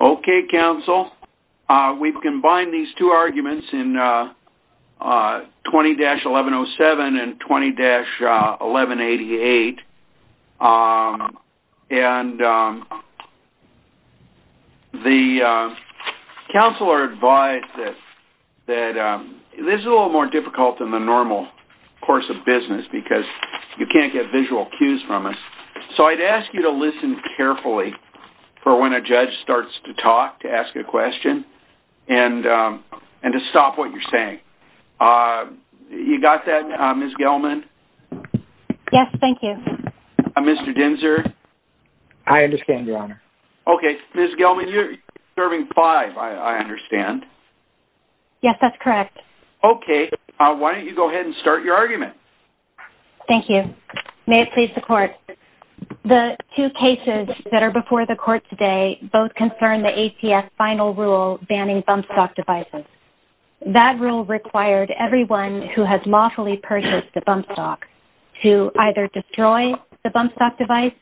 Okay counsel, we've combined these two arguments in 20-1107 and 20-1188 and the counselor advised that this is a little more difficult than the normal course of business because you can't get visual cues from us. So I'd ask you to listen carefully for when a judge starts to talk to ask a question and and to stop what you're saying. You got that Ms. Gelman? Yes, thank you. Mr. Dinser? I understand, your honor. Okay, Ms. Gelman, you're serving five, I understand. Yes, that's correct. Okay, why don't you go ahead and start your argument. Thank you. May it please the court. The two cases that are before the court today both concern the ATF final rule banning bump stock devices. That rule required everyone who has lawfully purchased a bump stock to either destroy the bump stock device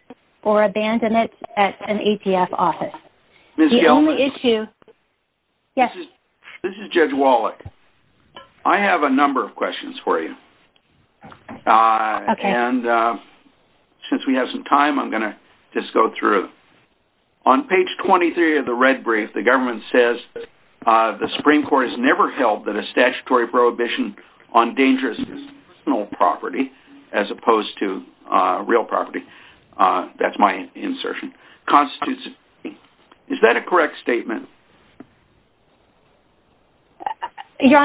or abandon it at an ATF office. Ms. Gelman, this is Judge Wallach. I have a question and since we have some time I'm going to just go through. On page 23 of the red brief, the government says the Supreme Court has never held that a statutory prohibition on dangerous personal property as opposed to real property. That's my insertion. Is that a correct statement? Your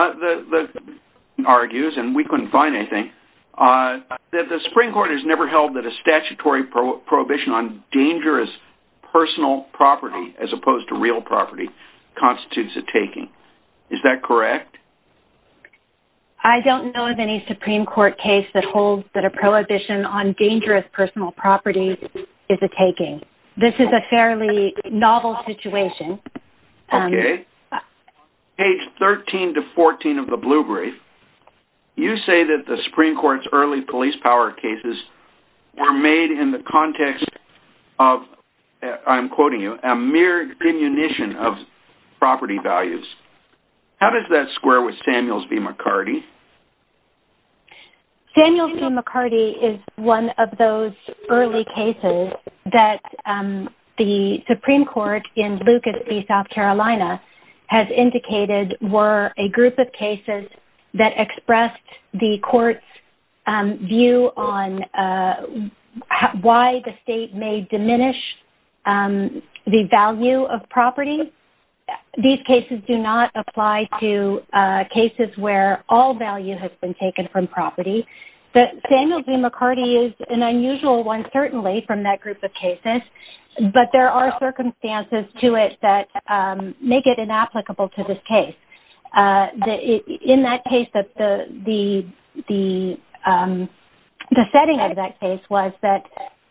argument argues, and we couldn't find anything, that the Supreme Court has never held that a statutory prohibition on dangerous personal property as opposed to real property constitutes a taking. Is that correct? I don't know of any Supreme Court case that holds that a prohibition on dangerous personal property is a taking. This is a fairly novel situation. Okay. Page 13 to 14 of the blue brief, you say that the Supreme Court's early police power cases were made in the context of, I'm quoting you, a mere diminution of property values. How does that square with Samuels v. McCarty? Samuels v. McCarty is one of those early cases that the Supreme Court in Lucas v. South Carolina has indicated were a group of cases that expressed the court's view on why the state may diminish the value of property. These cases do not apply to cases where all the property values are diminished. There are circumstances to it that make it inapplicable to this case. In that case, the setting of that case was that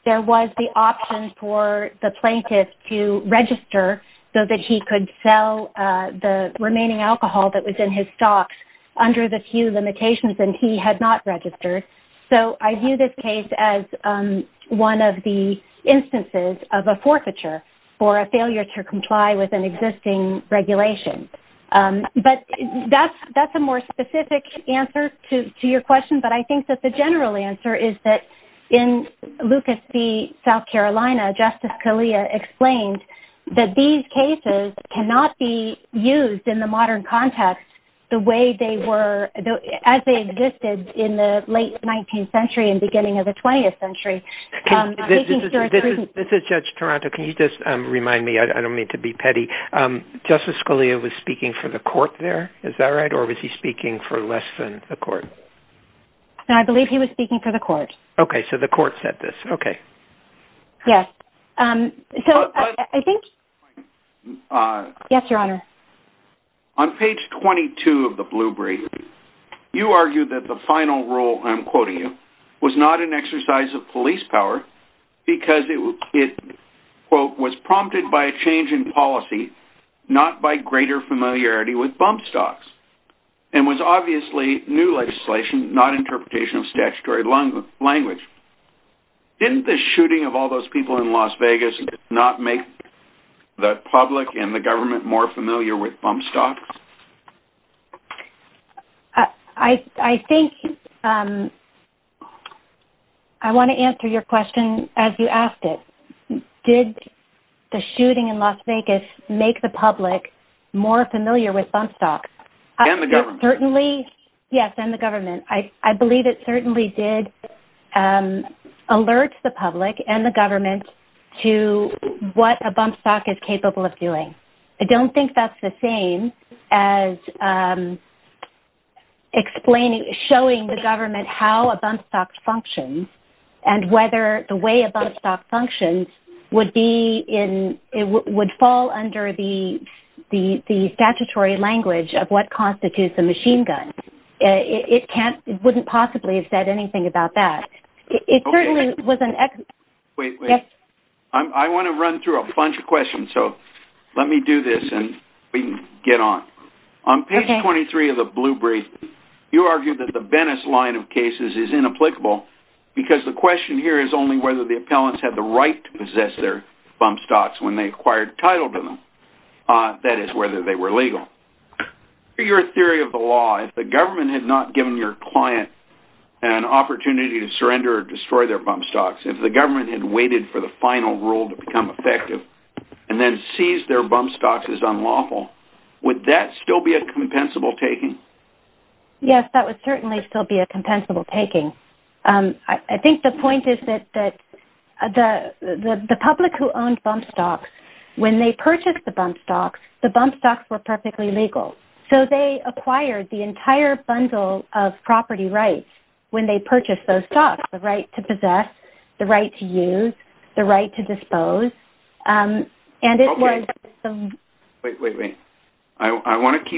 there was the option for the plaintiff to register so that he could sell the remaining alcohol that was in his stocks under the few limitations and he had not registered. So I view this case as one of the instances of a forfeiture for a failure to comply with an existing regulation. But that's a more specific answer to your question, but I think that the general answer is that in Lucas v. South Carolina, Justice Scalia explained that these cases cannot be late 19th century and beginning of the 20th century. This is Judge Toronto, can you just remind me, I don't mean to be petty, Justice Scalia was speaking for the court there, is that right, or was he speaking for less than the court? I believe he was speaking for the court. Okay, so the court said this, okay. Yes, so I think... On page 22 of the Blue Brief, you argued that the final rule, I'm quoting you, was not an exercise of police power because it was prompted by a change in policy, not by greater familiarity with bump stocks, and was obviously new legislation, not interpretation of statutory language. Didn't the shooting of all those people in Las Vegas not make the public and the government more familiar with bump stocks? I think, I want to answer your question as you asked it. Did the shooting in Las Vegas make the public more familiar with bump stocks? And the government. Certainly, yes, and the government. I believe it certainly did alert the public and the government to what a bump stock is capable of doing. I don't think that's the same as explaining, showing the government how a bump stock functions, and whether the way a bump stock functions would be in, it would fall under the statutory language of what constitutes a machine gun. It can't, it wouldn't possibly have said anything about that. It certainly wasn't. Wait, I want to run through a bunch of questions, so let me do this and we can get on. On page 23 of the blue brief, you argued that the Venice line of cases is inapplicable because the question here is only whether the appellants had the right to possess their bump stocks when they acquired title to them. That is, whether they were legal. Your theory of the law, if the government had not given your client an opportunity to surrender or destroy their bump stocks, if the government had waited for the final rule to become effective, and then seized their bump stocks as unlawful, would that still be a compensable taking? Yes, that would certainly still be a compensable taking. I think the point is that the public who owned bump stocks, when they purchased the bump stocks, the bump stocks were perfectly legal. So they acquired the entire bundle of property rights when they purchased those stocks, the right to possess, the right to use, the right to dispose. Wait, I want to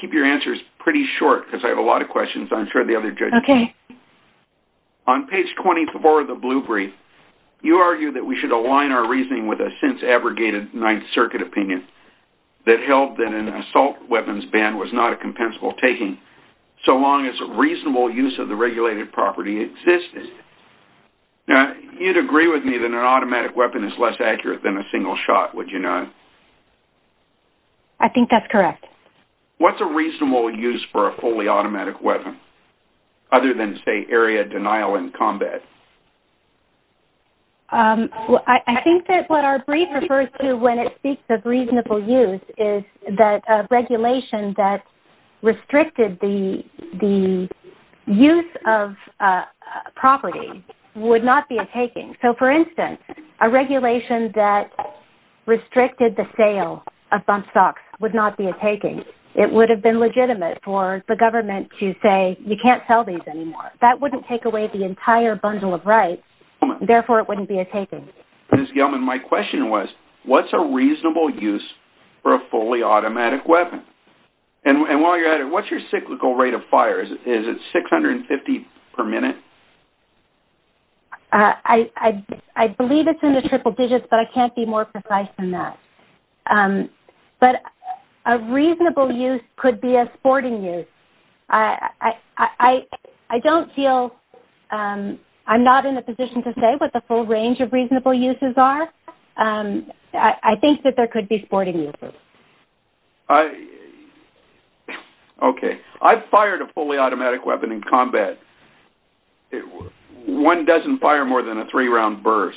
keep your answers pretty short because I have a lot of questions. I'm sure the other judges do. On page 24 of the blue brief, you argue that we should align our reasoning with a since-abrogated Ninth Circuit opinion that held that an assault weapons ban was not a compensable taking so long as reasonable use of the regulated property existed. Now, you'd agree with me that an automatic weapon is less accurate than a single shot, would you not? I think that's correct. What's a reasonable use for a fully automatic weapon, other than, say, area denial in combat? I think that what our brief refers to when it speaks of use of property would not be a taking. So, for instance, a regulation that restricted the sale of bump stocks would not be a taking. It would have been legitimate for the government to say, you can't sell these anymore. That wouldn't take away the entire bundle of rights. Therefore, it wouldn't be a taking. Ms. Gelman, my question was, what's a reasonable use for a fully automatic weapon? And while you're at it, what's your cyclical rate of fire? Is it 650 per minute? I believe it's in the triple digits, but I can't be more precise than that. But a reasonable use could be a sporting use. I don't feel I'm not in a position to say what the full range of reasonable uses are. I think that there Okay. I've fired a fully automatic weapon in combat. One doesn't fire more than a three-round burst.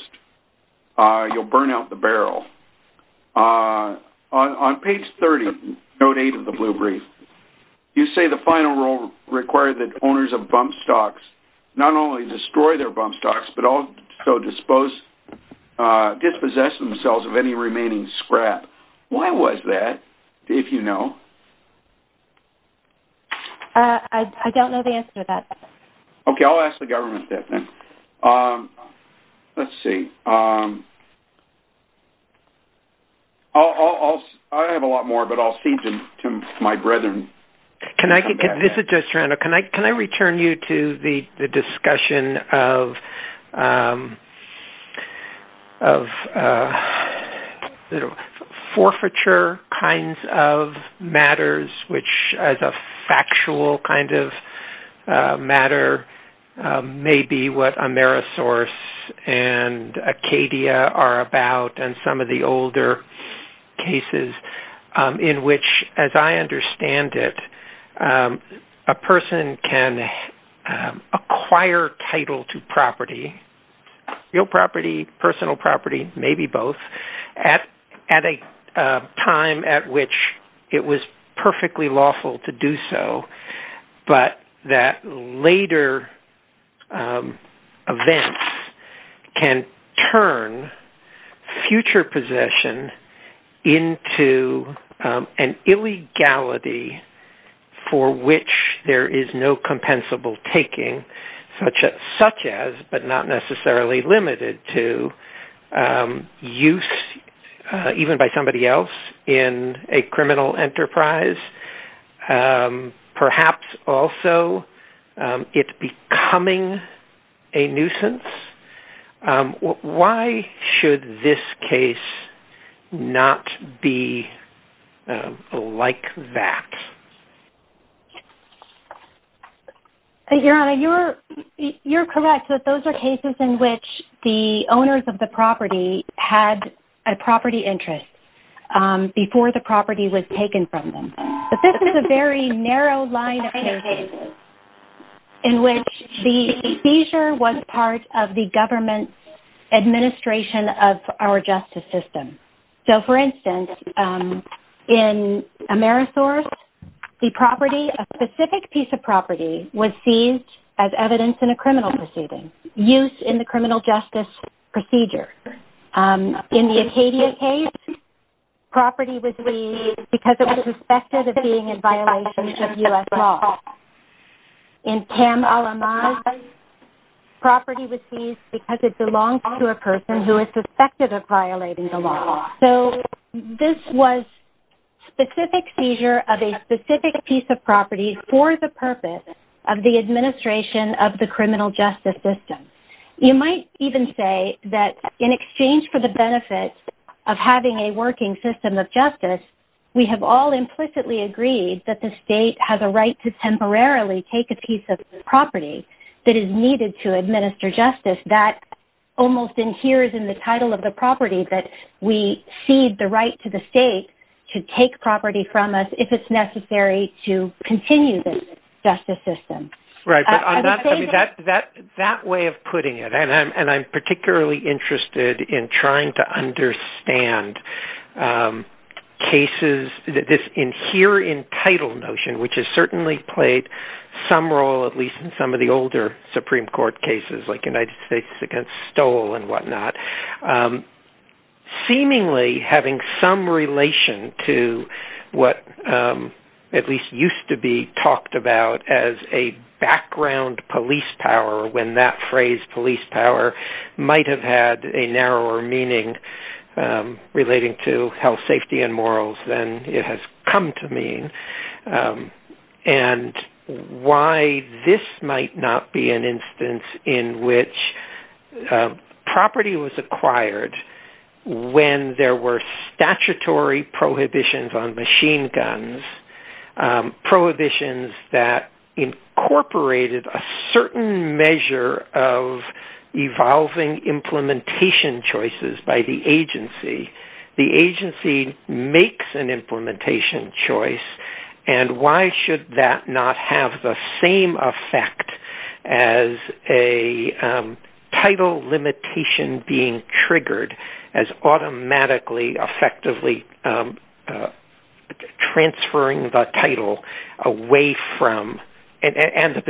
You'll burn out the barrel. On page 30, note 8 of the blue brief, you say the final rule required that owners of bump stocks not only destroy their bump stocks, but also dispose, dispossess themselves of any remaining scrap. Why was that, if you know? I don't know the answer to that. Okay, I'll ask the government that then. Let's see. I have a lot more, but I'll see to my brethren. This is Joe Strano. Can I can I return you to the discussion of forfeiture kinds of matters, which as a factual kind of matter may be what Amerisource and Acadia are about, and some of the older cases in which, as I understand it, a person can acquire title to property, real property, personal property, maybe both, at a time at which it was perfectly lawful to do for which there is no compensable taking, such as, but not necessarily limited to, use even by somebody else in a criminal enterprise, perhaps also it becoming a back. Your Honor, you're correct that those are cases in which the owners of the property had a property interest before the property was taken from them. But this is a very narrow line of cases in which the seizure was part of the government's administration of our justice system. So, for instance, in Amerisource, the property, a specific piece of property, was seized as evidence in a criminal proceeding, used in the criminal justice procedure. In the Acadia case, property was seized because it was suspected of being in violation of U.S. law. In Tam Al-Amaz, property was seized because it belonged to a person who is specific seizure of a specific piece of property for the purpose of the administration of the criminal justice system. You might even say that in exchange for the benefit of having a working system of justice, we have all implicitly agreed that the state has a right to temporarily take a piece of property that is needed to administer justice. That almost inheres in the title of the property that we cede the right to the state to take property from us if it's necessary to continue this justice system. Right, that way of putting it, and I'm particularly interested in trying to understand cases, this inherent title notion, which has certainly played some role, at least in some of the older Supreme Court cases, like United States against Stowell and whatnot, seemingly having some relation to what at least used to be talked about as a background police power, when that phrase police power might have had a narrower meaning relating to health, safety, and morals than it has come to property was acquired when there were statutory prohibitions on machine guns, prohibitions that incorporated a certain measure of evolving implementation choices by the agency. The agency makes an implementation choice, and why should that not have the same effect as a title limitation being triggered as automatically effectively transferring the title away from, and the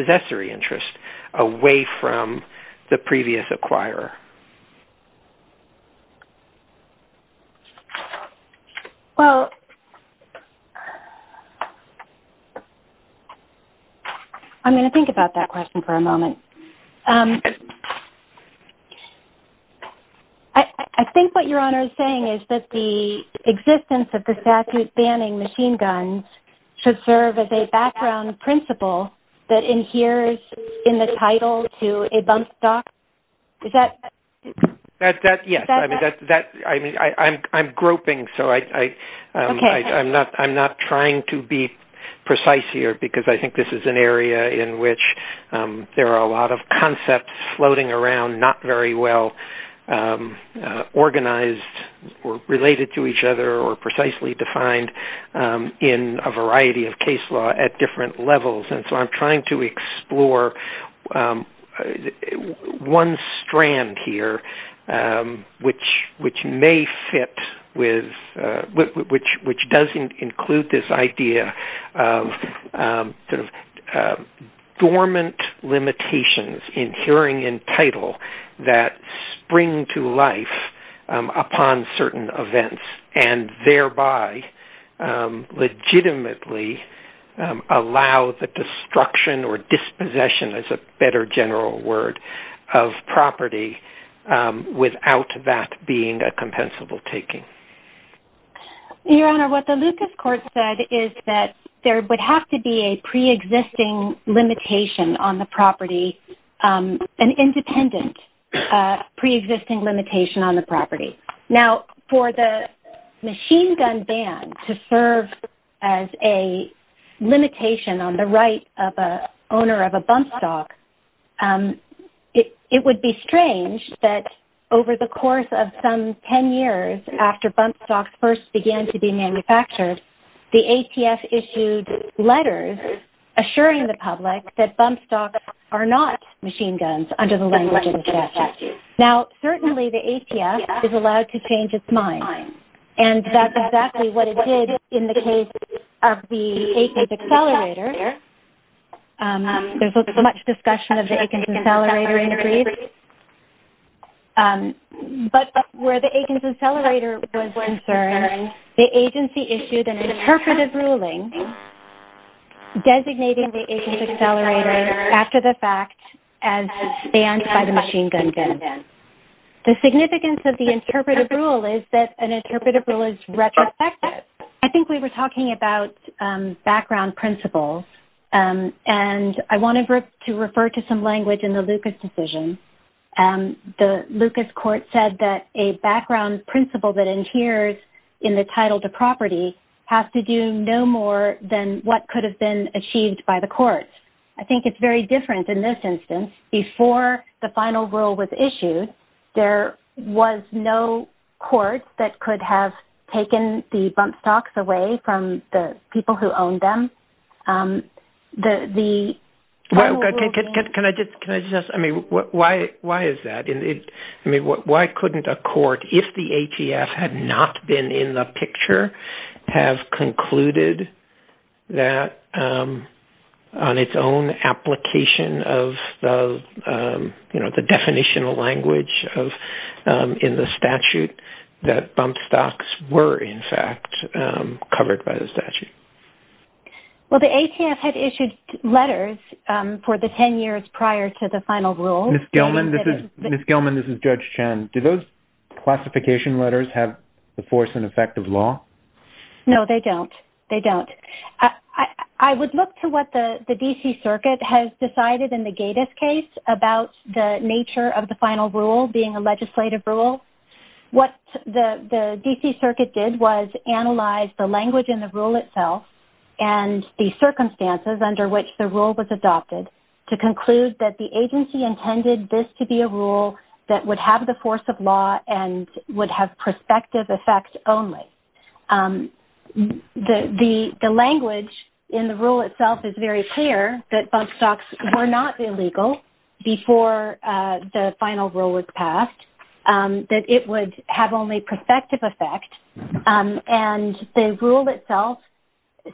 I'm going to think about that question for a moment. I think what your Honor is saying is that the existence of the statute banning machine guns should serve as a background principle that inheres in the title to a bump stock. Is that? Yes, I'm groping, so I'm not trying to be precise here because I think this is an area in which there are a lot of concepts floating around not very well organized or related to each other or precisely defined in a variety of case law at different levels, and so I'm trying to find one strand here which may fit with, which doesn't include this idea of dormant limitations in hearing in title that spring to life upon certain events and thereby legitimately allow the destruction or dispossession, as a better general word, of property without that being a compensable taking. Your Honor, what the Lucas court said is that there would have to be a pre-existing limitation on the property, an independent pre-existing limitation on the property. Now for the machine gun ban to serve as a limitation on the right of owner of a bump stock, it would be strange that over the course of some 10 years after bump stocks first began to be manufactured, the ATF issued letters assuring the public that bump stocks are not machine guns under the language of the statute. Now certainly the ATF is allowed to change its mind and that's there's so much discussion of the Aikens Accelerator in Greece, but where the Aikens Accelerator was concerned, the agency issued an interpretive ruling designating the Aikens Accelerator after the fact as banned by the machine gun ban. The significance of the interpretive rule is that an interpretive rule is principles and I wanted to refer to some language in the Lucas decision. The Lucas court said that a background principle that adheres in the title to property has to do no more than what could have been achieved by the courts. I think it's very different in this instance. Before the final rule was issued, there was no court that could have taken the bump stocks away from the people who owned them. Why couldn't a court, if the ATF had not been in the picture, have concluded that on its own application of the definitional language in the statute that bump stocks were in fact covered by the statute? Well, the ATF had issued letters for the 10 years prior to the final rule. Ms. Gelman, this is Judge Chen. Do those classification letters have the force and effect of law? No, they don't. They don't. I would look to what the the DC Circuit has decided in the Gatiss case about the nature of the final rule being a legislative rule. What the the DC Circuit did was analyze the language in the rule itself and the circumstances under which the rule was adopted to conclude that the agency intended this to be a rule that would have the force of law and would have prospective effects only. The language in the rule itself is very clear that bump stocks were not illegal before the final rule was passed. That it would have only prospective effect and the rule itself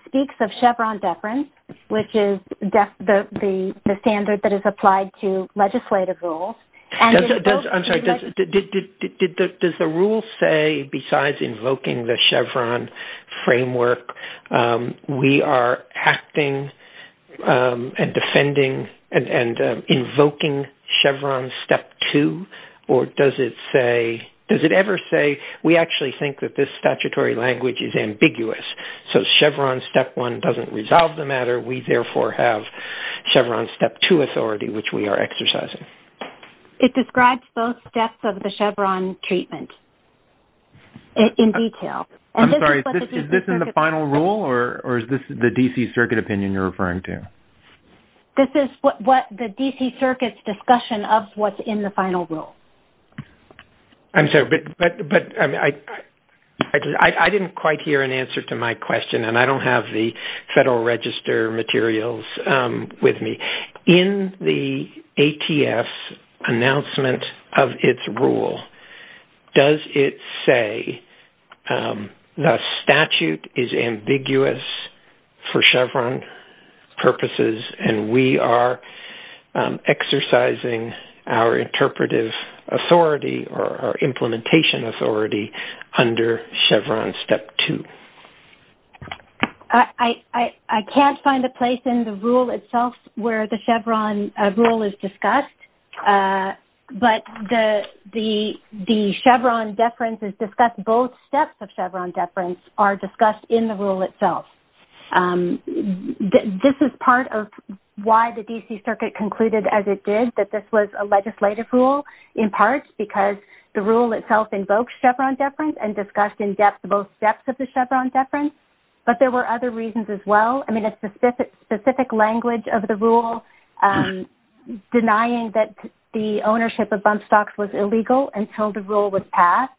speaks of Chevron deference, which is the standard that is applied to legislative rules. I'm sorry, does the rule say besides invoking the Chevron framework we are acting and defending and invoking Chevron step two or does it say, does it ever say we actually think that this statutory language is ambiguous so Chevron step one doesn't resolve the matter we therefore have Chevron step two authority which we are exercising? It describes both steps of the Chevron treatment in detail. I'm sorry, is this in the final rule or is this the DC Circuit opinion you're referring to? This is what the DC Circuit's discussion of what's in the final rule. I'm sorry, but I didn't quite hear an answer to my question and I don't have the Federal Register materials with me. In the ATF announcement of its rule, does it say the statute is ambiguous for Chevron purposes and we are exercising our interpretive authority or our implementation authority under Chevron step two? I can't find a place in the rule itself where the Chevron rule is discussed, but the Chevron deference is discussed. Both steps of Chevron deference are discussed in the rule. This is part of why the DC Circuit concluded as it did that this was a legislative rule in part because the rule itself invokes Chevron deference and discussed in depth both steps of the Chevron deference, but there were other reasons as well. I mean it's the specific language of the rule denying that the ownership of bump stocks was illegal until the rule was passed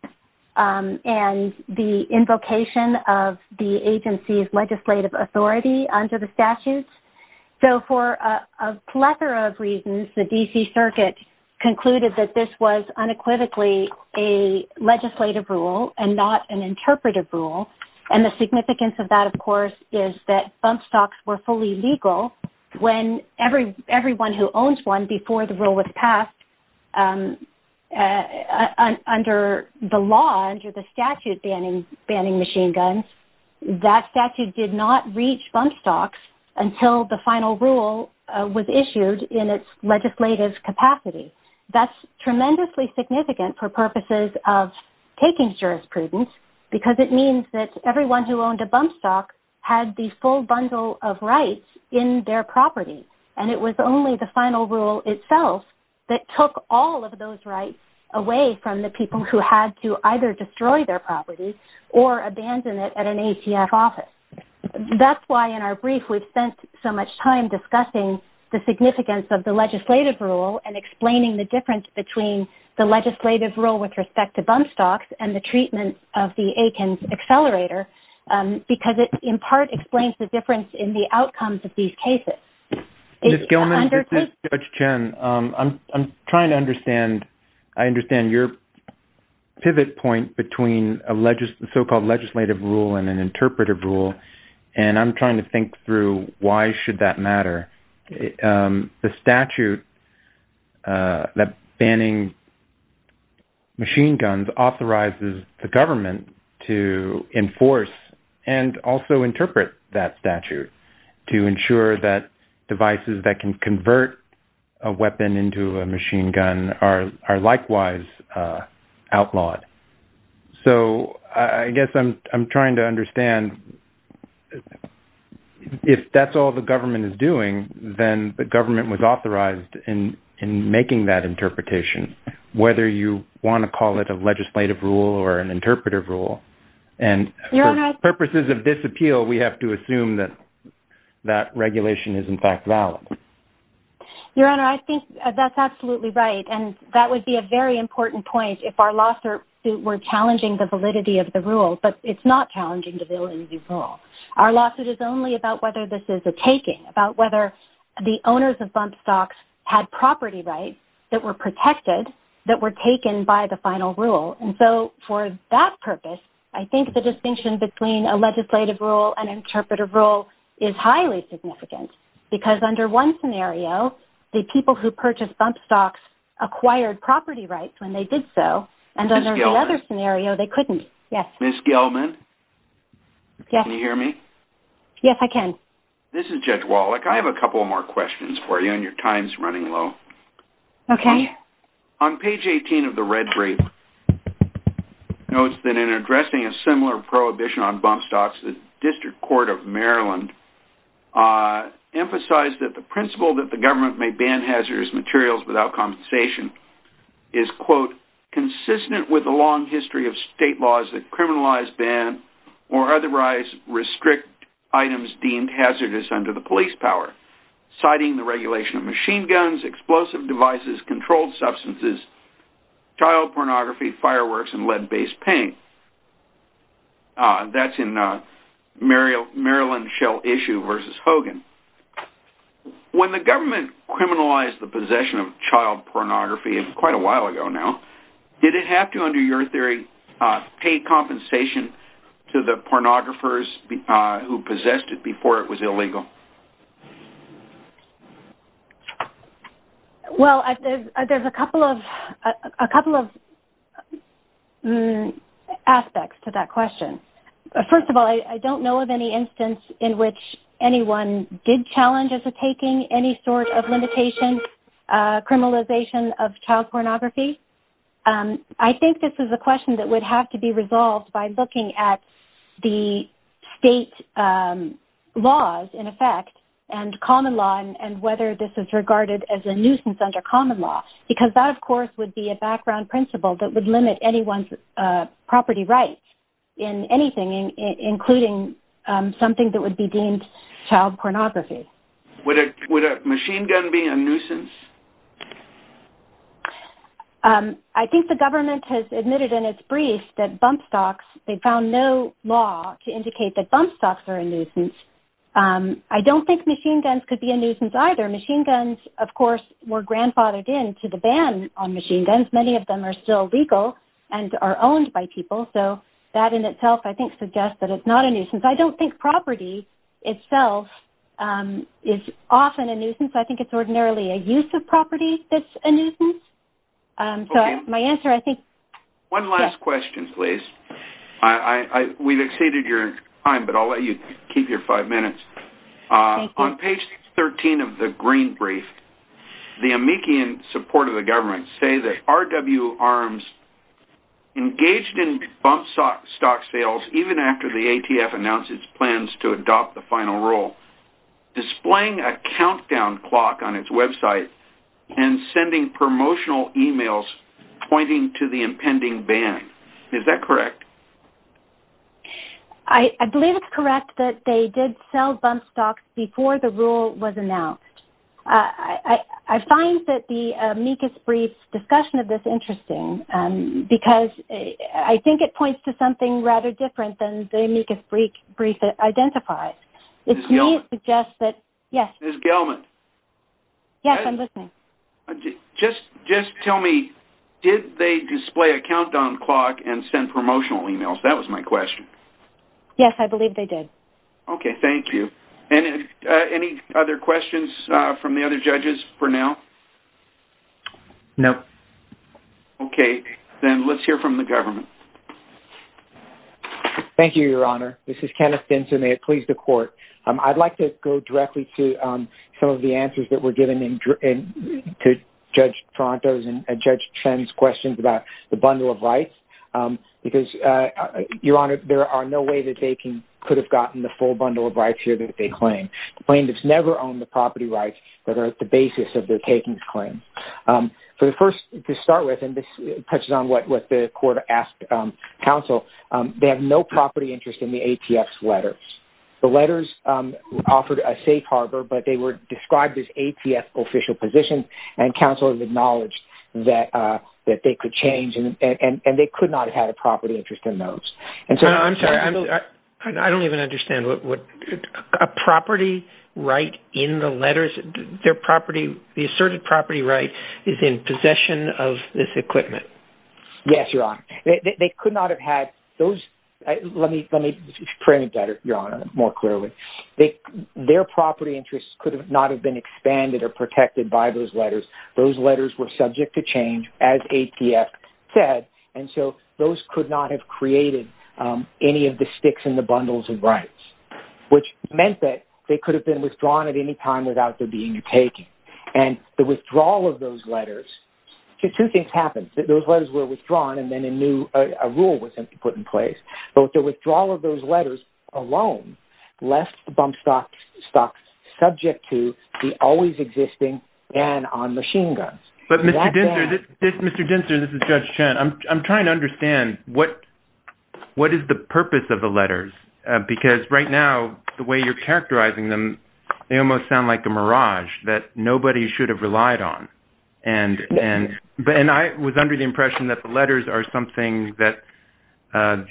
and the statute. So for a plethora of reasons the DC Circuit concluded that this was unequivocally a legislative rule and not an interpretive rule and the significance of that of course is that bump stocks were fully legal when everyone who owns one before the rule was passed under the law, under the until the final rule was issued in its legislative capacity. That's tremendously significant for purposes of taking jurisprudence because it means that everyone who owned a bump stock had the full bundle of rights in their property and it was only the final rule itself that took all of those rights away from the people who had to either destroy their property or abandon it at an ATF office. That's why in our brief we've spent so much time discussing the significance of the legislative rule and explaining the difference between the legislative rule with respect to bump stocks and the treatment of the Akins accelerator because it in part explains the difference in the outcomes of these cases. Judge Chen, I'm trying to understand, I understand your pivot point between a so-called legislative rule and an interpretive rule and I'm trying to think through why should that matter. The statute that banning machine guns authorizes the government to enforce and also interpret that statute to ensure that devices that can convert a weapon into a machine gun are likewise outlawed. So I guess I'm trying to understand if that's all the government is doing then the government was authorized in making that interpretation whether you want to call it a legislative rule or an interpretive rule and purposes of disappeal we have to assume that that regulation is in Your Honor, I think that's absolutely right and that would be a very important point if our lawsuit were challenging the validity of the rule but it's not challenging the validity of the rule. Our lawsuit is only about whether this is a taking about whether the owners of bump stocks had property rights that were protected that were taken by the final rule and so for that purpose I think the distinction between a legislative rule and interpretive rule is highly significant because under one scenario the people who purchased bump stocks acquired property rights when they did so and under the other scenario they couldn't. Yes. Ms. Gelman? Yes. Can you hear me? Yes I can. This is Judge Wallach. I have a couple more questions for you and your time's running low. Okay. On page 18 of the red brief notes that in addressing a similar prohibition on bump stocks the emphasize that the principle that the government may ban hazardous materials without compensation is quote consistent with a long history of state laws that criminalize, ban, or otherwise restrict items deemed hazardous under the police power citing the regulation of machine guns, explosive devices, controlled substances, child pornography, fireworks, and lead-based paint. That's in Maryland Shell issue versus Hogan. When the government criminalized the possession of child pornography and quite a while ago now did it have to under your theory pay compensation to the pornographers who possessed it before it was illegal? Well there's a couple of a couple of aspects to that instance in which anyone did challenge as a taking any sort of limitation criminalization of child pornography. I think this is a question that would have to be resolved by looking at the state laws in effect and common law and whether this is regarded as a nuisance under common law because that of course would be a background principle that would limit anyone's property rights in anything including something that would be deemed child pornography. Would a machine gun be a nuisance? I think the government has admitted in its brief that bump stocks they found no law to indicate that bump stocks are a nuisance. I don't think machine guns could be a nuisance either. Machine guns of course were grandfathered in to the ban on machine guns. Many of them are still by people so that in itself I think suggests that it's not a nuisance. I don't think property itself is often a nuisance. I think it's ordinarily a use of property that's a nuisance. So my answer I think. One last question please. I we've exceeded your time but I'll let you keep your five minutes. On page 13 of the green brief the amici in support of the government say that RW arms engaged in bump stock sales even after the ATF announced its plans to adopt the final rule displaying a countdown clock on its website and sending promotional emails pointing to the impending ban. Is that correct? I believe it's correct that they did sell bump stocks before the rule was announced. I find that the amicus brief discussion of this interesting because I think it points to something rather different than the amicus brief identifies. It suggests that yes. Ms. Gelman. Yes I'm listening. Just tell me did they display a countdown clock and send promotional emails? That was my question. Yes I believe they did. Okay then let's hear from the government. Thank you your honor. This is Kenneth Benson. May it please the court. I'd like to go directly to some of the answers that were given in to Judge Tronto's and Judge Chen's questions about the bundle of rights because your honor there are no way that they can could have gotten the full bundle of rights here that they claim. The plaintiffs never own the property. To start with and this touches on what the court asked counsel they have no property interest in the ATF's letters. The letters offered a safe harbor but they were described as ATF official positions and counsel has acknowledged that they could change and they could not have had a property interest in those. I'm sorry I don't even understand what a property right in the of this equipment. Yes your honor they could not have had those let me let me print better your honor more clearly. They their property interests could not have been expanded or protected by those letters. Those letters were subject to change as ATF said and so those could not have created any of the sticks in the bundles of rights which meant that they could have been withdrawn at any time without there being a taking and the withdrawal of those letters two things happened that those letters were withdrawn and then a new rule was put in place but with the withdrawal of those letters alone left the bump stock subject to the always existing ban on machine guns. But Mr. Dinser this is Judge Chen I'm trying to understand what what is the purpose of the letters because right now the way you're characterizing them they almost sound like a mirage that nobody should have relied on and and but and I was under the impression that the letters are something that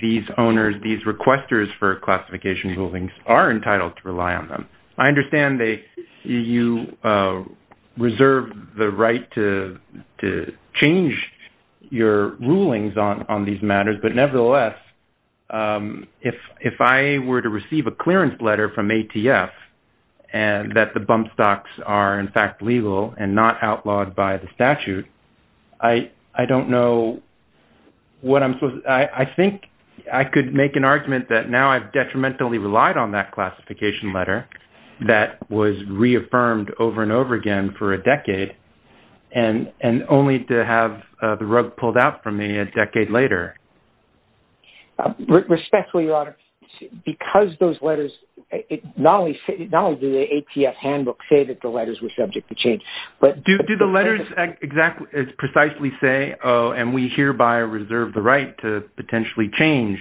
these owners these requesters for classification rulings are entitled to rely on them. I understand they you reserve the right to to change your rulings on on these matters but nevertheless if if I were to receive a clearance letter from ATF and that the bump stocks are in fact legal and not outlawed by the statute I I don't know what I'm supposed I think I could make an argument that now I've detrimentally relied on that classification letter that was reaffirmed over and over again for a decade and and only to have the rug pulled out from me a decade later. Respectfully your honor because those letters it not only not only the ATF handbook say that the letters were subject to change but... Do the letters exactly precisely say oh and we hereby reserve the right to potentially change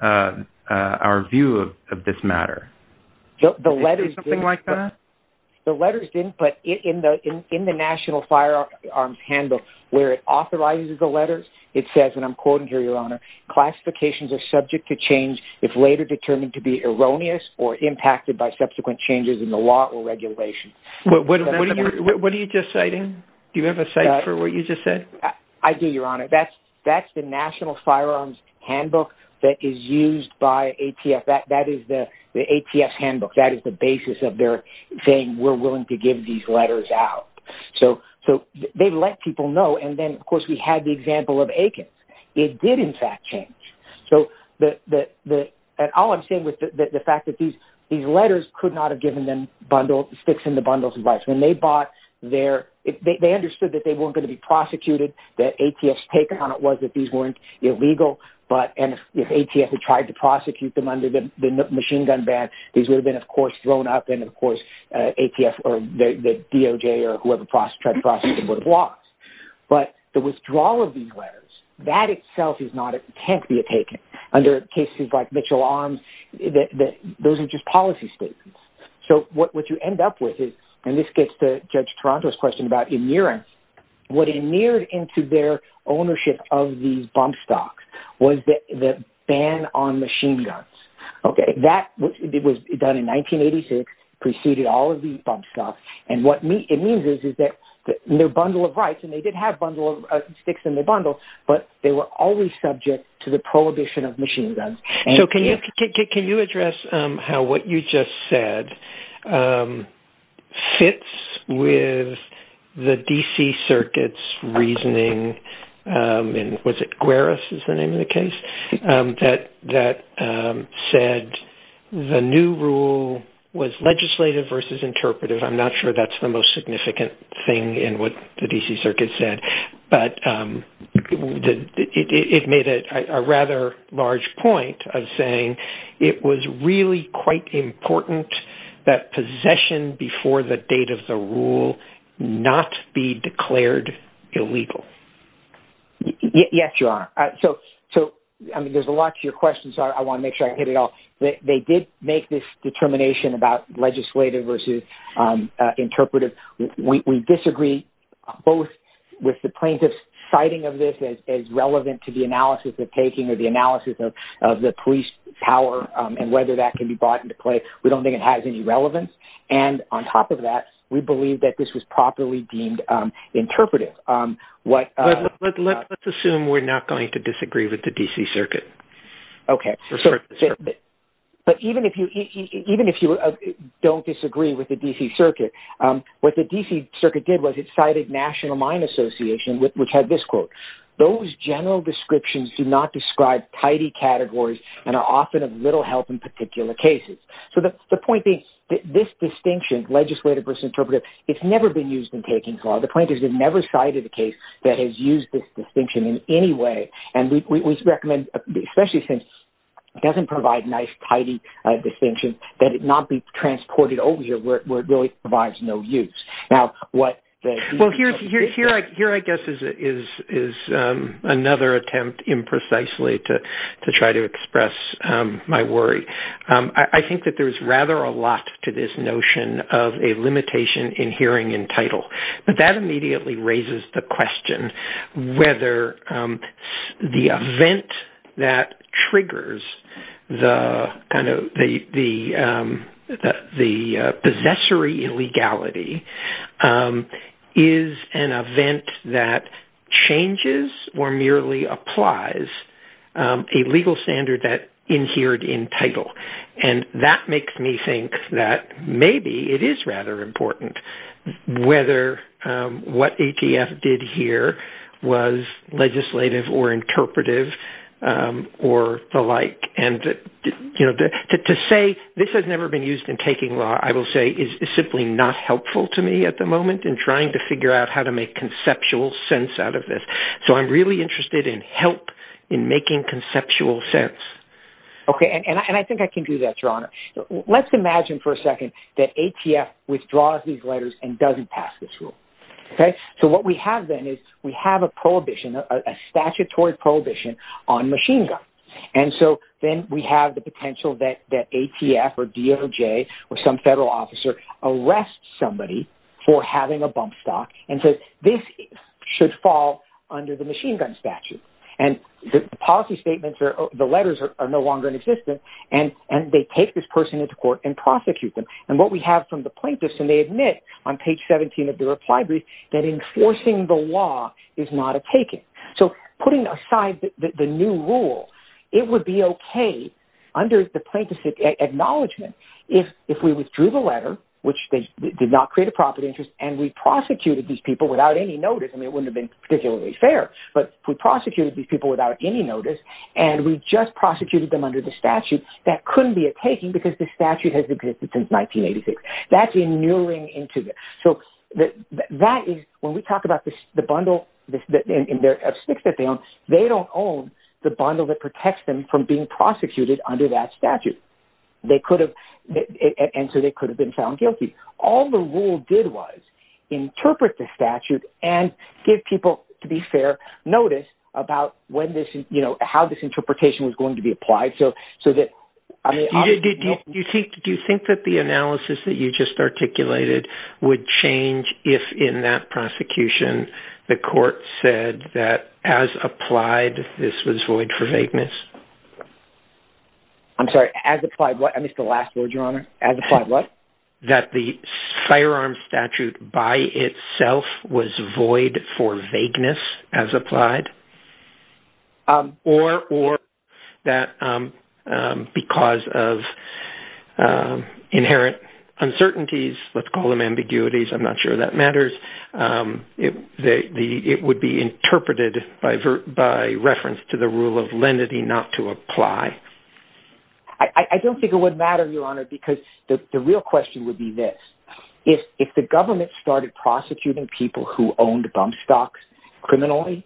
our view of this matter? The letters didn't put it in the in the National Firearms Handbook where it authorizes the letters it says and I'm quoting here your honor classifications are subject to change if later determined to be erroneous or impacted by subsequent changes in the law or regulation. What are you just citing? Do you have a site for what you just said? I do your honor that's that's the National Firearms Handbook that is used by ATF that that is the the ATF handbook that is the basis of their thing we're willing to give these out so so they let people know and then of course we had the example of Aikens it did in fact change so that that that all I'm saying with the fact that these these letters could not have given them bundled sticks in the bundles advice when they bought their if they understood that they weren't going to be prosecuted that ATF's take on it was that these weren't illegal but and if ATF had tried to prosecute them under the machine gun ban these would have of course thrown up and of course ATF or the DOJ or whoever tried to prosecute them would have lost but the withdrawal of these letters that itself is not it can't be a taken under cases like Mitchell Arms that those are just policy statements so what would you end up with is and this gets to Judge Toronto's question about in nearance what he neared into their ownership of these bump stocks was that the ban on 1986 preceded all of these bump stocks and what me it means is is that their bundle of rights and they did have bundle of sticks in the bundle but they were always subject to the prohibition of machine guns so can you can you address how what you just said fits with the DC circuits reasoning and was it was legislative versus interpretive I'm not sure that's the most significant thing in what the DC circuit said but it made it a rather large point of saying it was really quite important that possession before the date of the rule not be declared illegal yes you are so so I mean there's a lot to your questions are I want to make sure I get it all they did make this determination about legislative versus interpretive we disagree both with the plaintiff's citing of this as relevant to the analysis of taking or the analysis of the police power and whether that can be brought into play we don't think it has any relevance and on top of that we believe that this was properly deemed interpretive what let's assume we're not going to disagree with the DC circuit okay but even if you even if you don't disagree with the DC circuit what the DC circuit did was it cited National Mine Association with which had this quote those general descriptions do not describe tidy categories and are often of little help in particular cases so that's the point being this distinction legislative versus interpretive it's never been used in taking for the point is it never cited a case that has used this distinction in any way and we recommend especially since it doesn't provide nice tidy distinction that it not be transported over here where it really provides no use now what well here's your here I guess is it is is another attempt in precisely to try to express my worry I think that there's rather a lot to this notion of a limitation in hearing in title but that immediately raises the event that triggers the kind of the the the possessory illegality is an event that changes or merely applies a legal standard that in here to entitle and that makes me think that maybe it is rather important whether what ATF did here was legislative or interpretive or the like and you know to say this has never been used in taking law I will say is simply not helpful to me at the moment in trying to figure out how to make conceptual sense out of this so I'm really interested in help in making conceptual sense okay and I think I can do that your honor let's imagine for a second that ATF withdraws these letters and doesn't pass this rule okay so what we have then is we have a prohibition a statutory prohibition on machine gun and so then we have the potential that that ATF or DOJ or some federal officer arrest somebody for having a bump stock and says this should fall under the machine gun statute and the policy statements are the letters are no longer in existence and and they take this person into court and prosecute them and what we have from the plaintiffs and they admit on page 17 of the reply brief that enforcing the law is not a taking so putting aside that the new rule it would be okay under the plaintiffs acknowledgment if if we withdrew the letter which they did not create a property interest and we prosecuted these people without any notice and it wouldn't have been particularly fair but we prosecuted these people without any notice and we just prosecuted them under the statute that couldn't be a taking because the statute has existed since 1986 that's a new ring into this so that that is when we talk about this the bundle that in their sticks that they own they don't own the bundle that protects them from being prosecuted under that statute they could have answered it could have been found guilty all the rule did was interpret the statute and give people to be fair notice about when this is you know how this interpretation was going to be do you think that the analysis that you just articulated would change if in that prosecution the court said that as applied this was void for vagueness I'm sorry as applied what I missed the last word your honor as applied what that the firearm statute by itself was void for vagueness as applied or or that because of inherent uncertainties let's call them ambiguities I'm not sure that matters if they it would be interpreted by vert by reference to the rule of lenity not to apply I don't think it would matter your honor because the real question would be this if if the government started prosecuting people who owned bump stocks criminally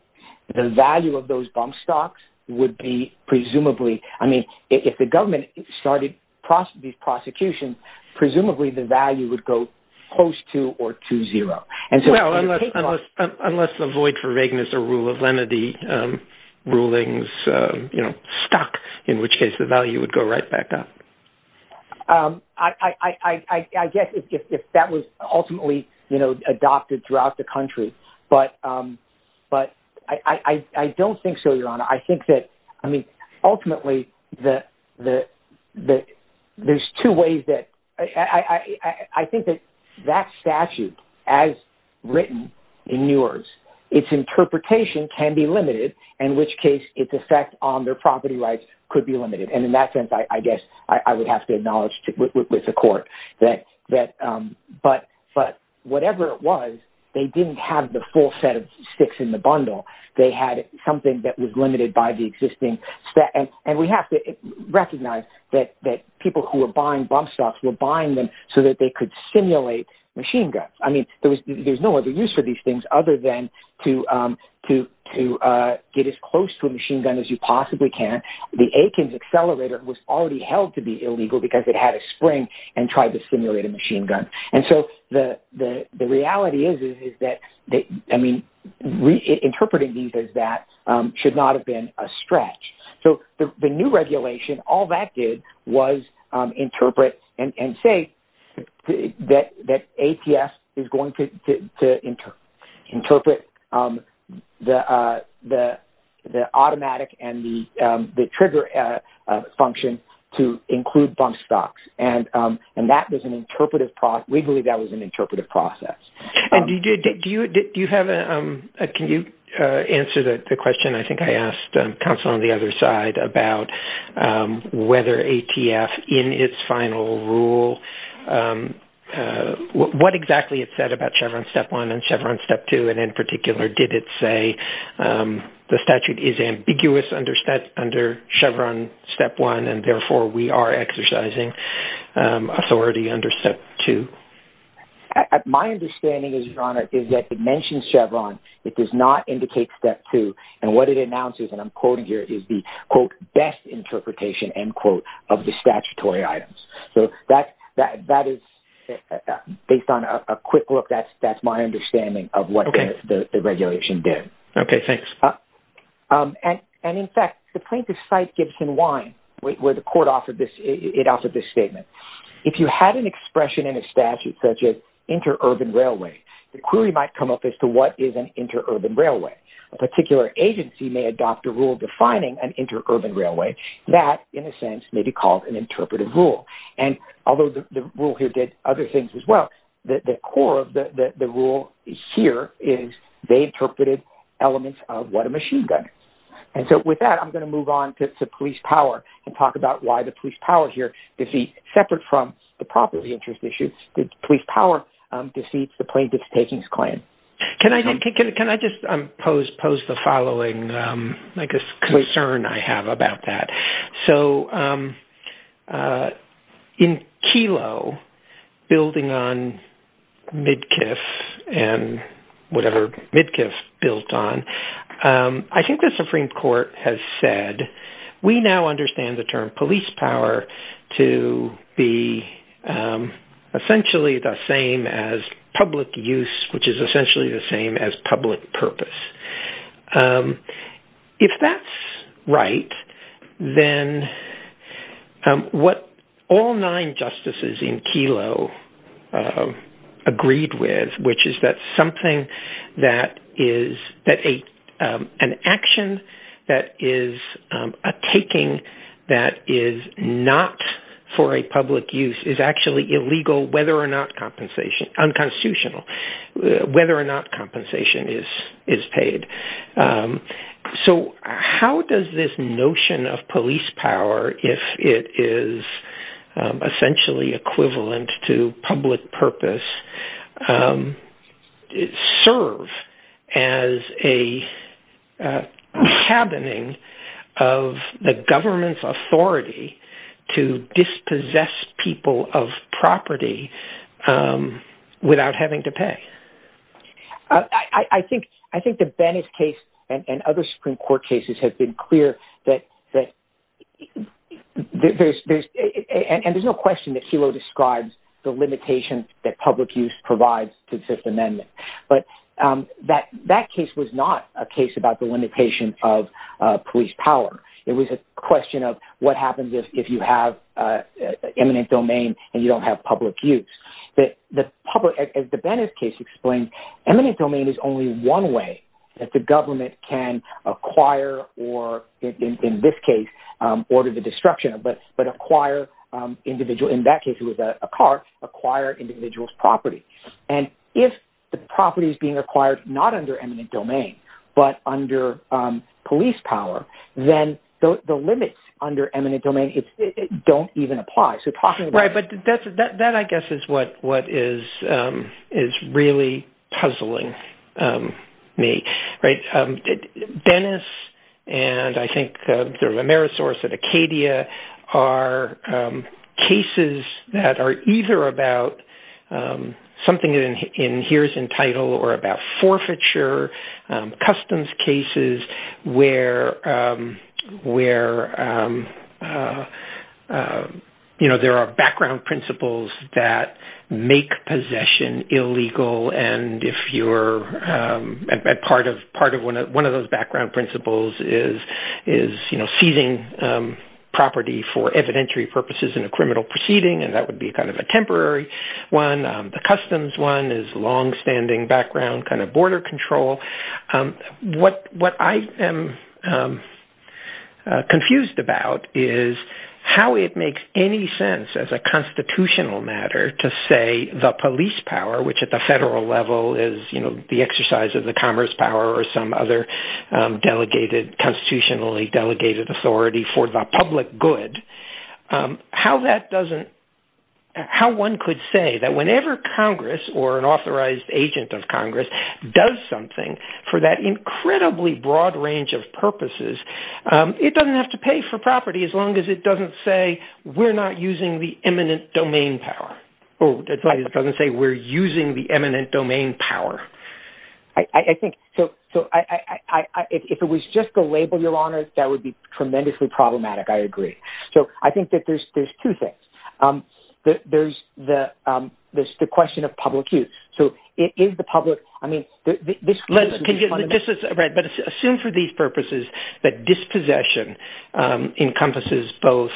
the value of those bump stocks would be presumably I mean if the government started prosecution presumably the value would go close to or to zero and so unless the void for vagueness a rule of lenity rulings you know stock in which case the value would go right back up I I guess if that was ultimately you know adopted throughout the country but but I I don't think so your honor I think that I mean ultimately that the that there's two ways that I I think that that statute as written in yours its interpretation can be limited in which case its effect on their property rights could be limited and in that sense I guess I would have to acknowledge with the court that that but but whatever it was they didn't have the full set of sticks in the bundle they had something that was limited by the existing set and and we have to recognize that that people who are buying bump stocks were buying them so that they could simulate machine guns I mean there was there's no other use for these things other than to to to get as close to a machine gun as you possibly can the Aikens accelerator was already held to be illegal because it had a spring and tried to simulate a machine gun and so the the reality is is that I mean interpreting these as that should not have been a stretch so the new regulation all that did was interpret and say that that APS is going to interpret the the the automatic and the the trigger function to include bump stocks and and that was an interpretive process we believe that was an interpretive process and you did you did you have a can you answer the question I think I asked counsel on the other side about whether ATF in its final rule what exactly it said about Chevron step 1 and Chevron step 2 and in particular did it say the statute is ambiguous under step under Chevron step 1 and therefore we are exercising authority under step 2 at my understanding is your honor is that it mentions Chevron it does not indicate step 2 and what it announces and I'm quoting here is the quote best interpretation end quote of the statutory items so that that that is based on a quick look that's that's my understanding of what the regulation did okay thanks and and in fact the plaintiff site Gibson wine where the court offered this it offered this statement if you had an expression in a statute such as interurban railway the query might come up as to what is an interurban railway a particular agency may adopt a rule defining an interurban railway that in a sense may be called an interpretive rule and although the rule here did other things as well that the core of the rule here is they interpreted elements of what a machine gun and so with that I'm going to move on to police power and talk about why the police power here is he separate from the property interest issues the police power deceits the plaintiff's takings claim can I can I just impose pose the following like a concern I have about that so in kilo building on mid if and whatever Midkiff built on I think the Supreme Court has said we now understand the term police power to be essentially the same as public use which is essentially the same as public purpose if that's right then what all justices in kilo agreed with which is that something that is that a an action that is a taking that is not for a public use is actually illegal whether or not compensation unconstitutional whether or not compensation is is paid so how does this notion of police power if it is essentially equivalent to public purpose it serve as a happening of the government's authority to dispossess people of property without having to pay I think I think the case and other Supreme Court cases have been clear that there's no question that kilo describes the limitation that public use provides to the Fifth Amendment but that that case was not a case about the limitation of police power it was a question of what happens if you have eminent domain and you don't have public use that the public as the Venice case explained eminent domain is only one way that the government can acquire or in this case order the destruction of but but acquire individual in that case it was a car acquire individuals property and if the property is being acquired not under eminent domain but under police power then the limits under eminent domain it don't even apply so talking right but that's that that I guess is what what is is really puzzling me right Dennis and I think there's a marriage source at Acadia are cases that are either about something in here's entitled or about forfeiture customs cases where where you know there are background principles that make possession illegal and if you're at part of part of one of one of those background principles is is you know seizing property for evidentiary purposes in a criminal proceeding and that would be kind of a temporary one the customs one is long-standing background kind of border control what I am confused about is how it makes any sense as a constitutional matter to say the police power which at the federal level is you know the exercise of the commerce power or some other delegated constitutionally delegated authority for the public good how that doesn't how one could say that whenever Congress or an broad range of purposes it doesn't have to pay for property as long as it doesn't say we're not using the eminent domain power oh that's like it doesn't say we're using the eminent domain power I think so so I if it was just a label your honor that would be tremendously problematic I agree so I think that there's there's two things there's the there's the question of public use so it is the public I mean assume for these purposes that dispossession encompasses both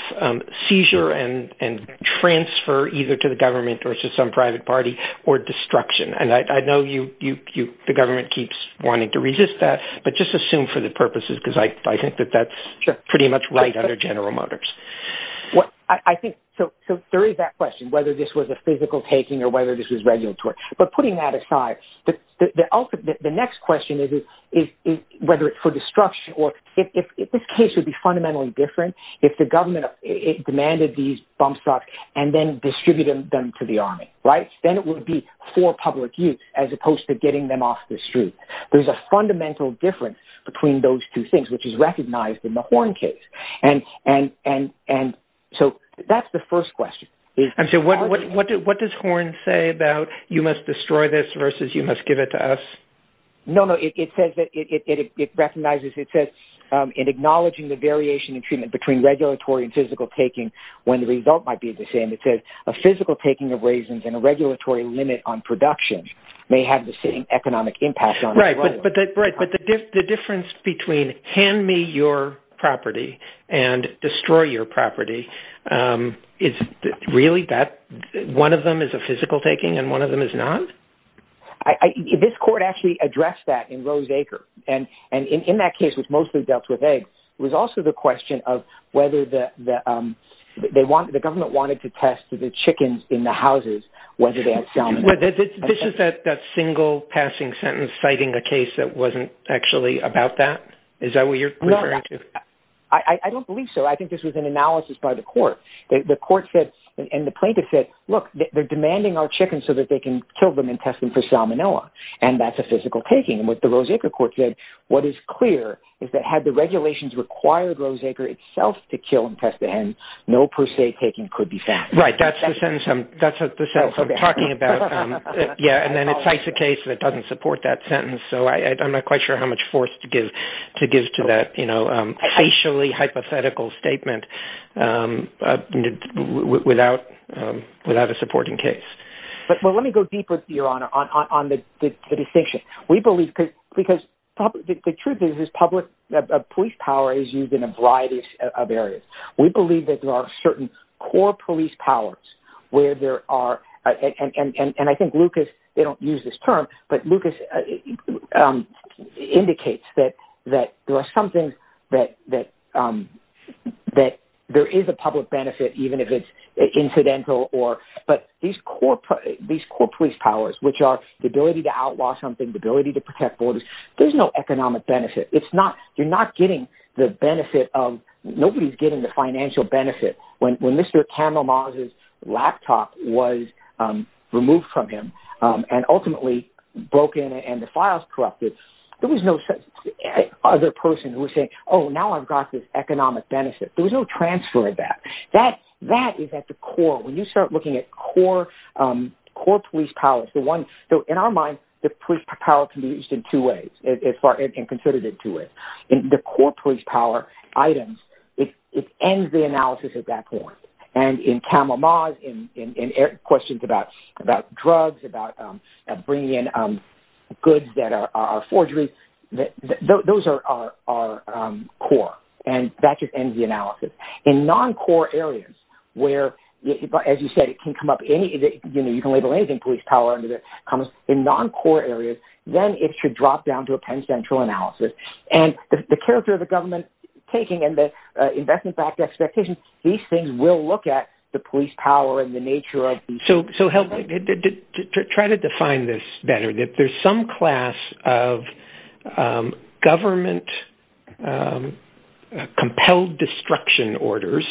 seizure and and transfer either to the government or to some private party or destruction and I know you you the government keeps wanting to resist that but just assume for the purposes because I think that that's pretty much right under General Motors what I think so there is that question whether this was a physical taking or whether this is regulatory but putting that aside the ultimate the next question is is whether it's for destruction or if this case would be fundamentally different if the government demanded these bump stops and then distributed them to the army right then it would be for public use as opposed to getting them off the street there's a fundamental difference between those two things which is recognized in the horn case and and and and so that's the first question is and so what what did what does horn say about you must destroy this versus you must give it to us no no it says that it recognizes it says in acknowledging the variation in treatment between regulatory and physical taking when the result might be the same it says a physical taking of raisins and a regulatory limit on production may have the same economic impact on right but that's right but the difference between hand me your property and destroy your property it's really that one of them is a physical taking and one of them is not I this court actually addressed that in Roseacre and and in that case which mostly dealt with eggs was also the question of whether the they want the government wanted to test the chickens in the houses whether they had found this is that that single passing sentence citing a case that wasn't actually about that is that what you're going to I don't believe so I think this was an analysis by the court the court said and the plaintiff said look they're demanding our chickens so that they can kill them and test them for salmonella and that's a physical taking with the Roseacre court said what is clear is that had the regulations required Roseacre itself to kill and test the hens no per se taking could be fast right that's the sentence um that's what the cells are talking about yeah and then it's a case that doesn't support that sentence so I I'm not quite sure how much force to give to give to that you know actually hypothetical statement without without a supporting case but well let me go deeper to your honor on the distinction we believe because probably the truth is public police power is used in a variety of areas we believe that there are certain core police powers where there are and and I think Lucas they don't use this term but Lucas indicates that that there are some things that that that there is a public benefit even if it's incidental or but these corporate these core police powers which are the ability to outlaw something the ability to protect borders there's no economic benefit it's not you're not getting the benefit of nobody's getting the financial benefit when when mr. Campbell Mars's laptop was removed from him and ultimately broken and the files corrupted there was no such other person who was saying oh now I've got this economic benefit there was no transfer of that that that is at the core when you start looking at core core police powers the one so in our mind the police power can be used in two ways as far as considered it to it in the corporate power items it ends the analysis at that point and in camera mods in questions about about drugs about bringing in goods that are forgery that those are our core and that just ends the analysis in non-core areas where as you said it can come up any you know you can label anything police power under that comes in non-core areas then it should drop down to a Penn Central analysis and the character of the government taking and the investment backed expectations these things will look at the police power and the nature of so so help did try to define this better that there's some class of government compelled destruction orders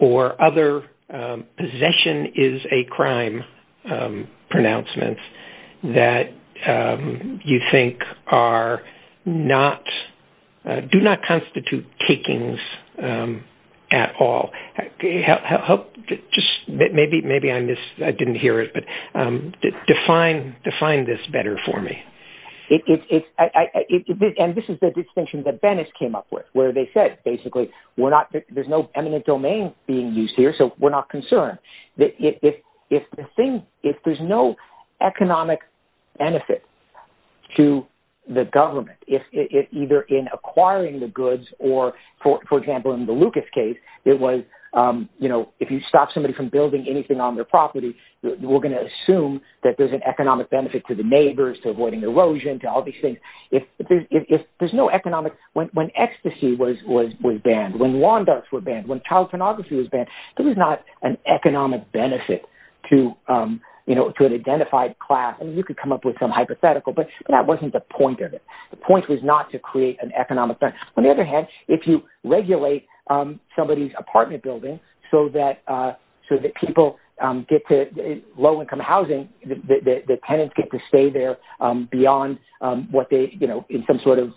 or other possession is a crime pronouncement that you think are not do not constitute takings at all help just maybe maybe I missed I didn't hear it but define define this better for me it's and this is the distinction that Venice came up with where they said basically we're not there's no eminent domain being used here so we're not concerned if there's no economic benefit to the government if either in acquiring the goods or for example in the Lucas case it was you know if you stop somebody from building anything on their property we're gonna assume that there's an economic benefit to the neighbors to avoiding erosion to all these things if there's no economic when ecstasy was banned when when child pornography was banned it was not an economic benefit to you know to an identified class and you could come up with some hypothetical but that wasn't the point of it the point was not to create an economic on the other hand if you regulate somebody's apartment building so that so that people get to low-income housing the tenants get to stay there beyond what they you know in some sort of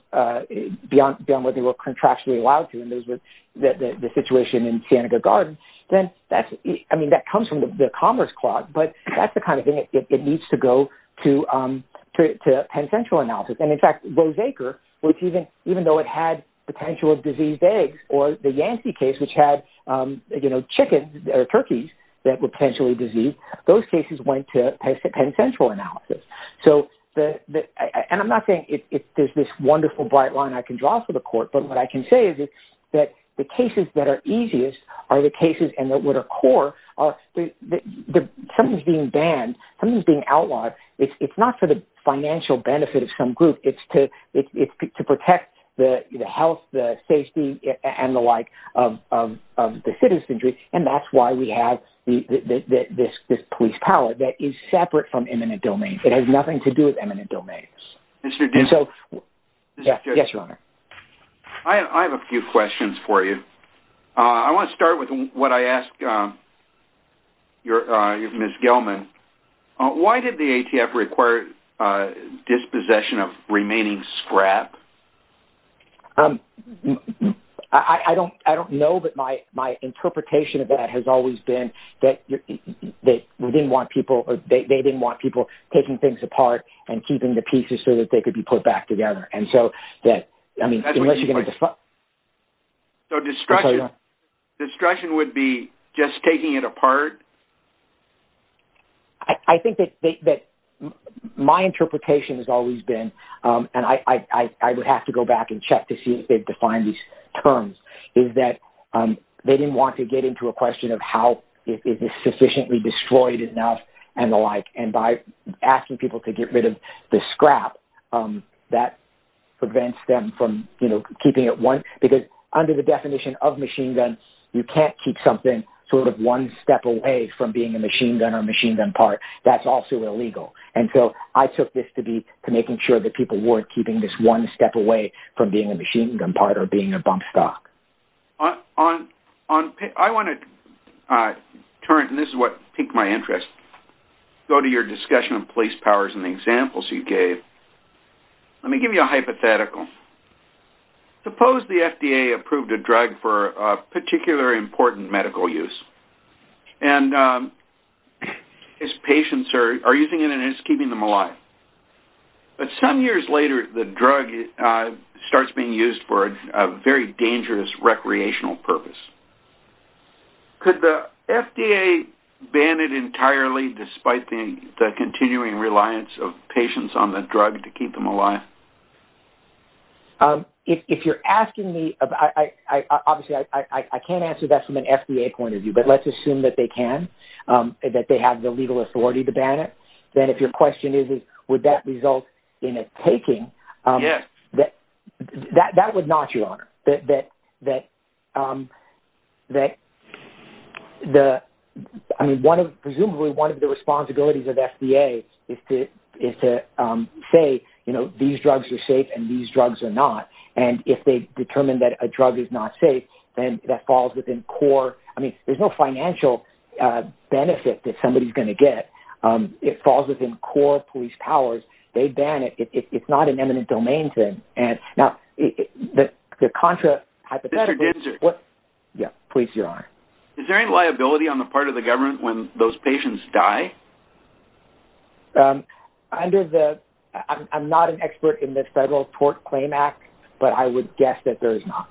beyond beyond what they were contractually allowed to and those that the situation in Siena Garden then that's I mean that comes from the Commerce Clause but that's the kind of thing it needs to go to Penn Central analysis and in fact those acre which even even though it had potential of diseased eggs or the Yancey case which had you know chickens or turkeys that were potentially diseased those cases went to Penn Central analysis so the and I'm not saying it is this wonderful bright line I can draw for the court but what I can say is it's that the cases that are easiest are the cases and that would occur are the terms being banned from being outlawed it's not for the financial benefit of some group it's to it's to protect the health the safety and the like of the citizenry and that's why we have the this this police power that is separate from imminent domain it has nothing to do with eminent domains mr. do so yes your honor I have a few questions for you I want to start with what I asked your miss Gilman why did the ATF required dispossession of remaining scrap I don't I don't know that my my interpretation of that has always been that they didn't want people or they didn't want people taking things apart and keeping the pieces so that they could be put back together and so that I mean unless you're going to fuck so destruction destruction would be just taking it apart I think that my interpretation has always been and I would have to go back and check to see if they've defined these terms is that they didn't want to get into a question of how is this sufficiently destroyed enough and the like and by asking people to get rid of the scrap that prevents them from you know keeping it one because under the definition of machine gun you can't keep something sort of one step away from being a machine gun or machine gun part that's also illegal and so I took this to be to making sure that people weren't keeping this one step away from being a machine gun part or being a bump stock on on I want to turn and this is what piqued my interest go to your discussion of police powers and examples you gave let me give you a hypothetical suppose the FDA approved a drug for a particular important medical use and his patients are using it and it's keeping them alive but some years later the drug starts being used for a very dangerous recreational purpose could the FDA ban it entirely despite the continuing reliance of patients on the drug to keep them alive if you're asking me I can't answer that from an FDA point of view but let's assume that they can that they have the legal authority to ban it then if your question is would that result in that that the I mean one of presumably one of the responsibilities of FDA is to is to say you know these drugs are safe and these drugs are not and if they determine that a drug is not safe then that falls within core I mean there's no financial benefit that somebody's going to get it falls within core police powers they ban it it's not an eminent domain thing and now the contra what yeah please your honor is there any liability on the part of the government when those patients die under the I'm not an expert in this federal tort claim act but I would guess that there is not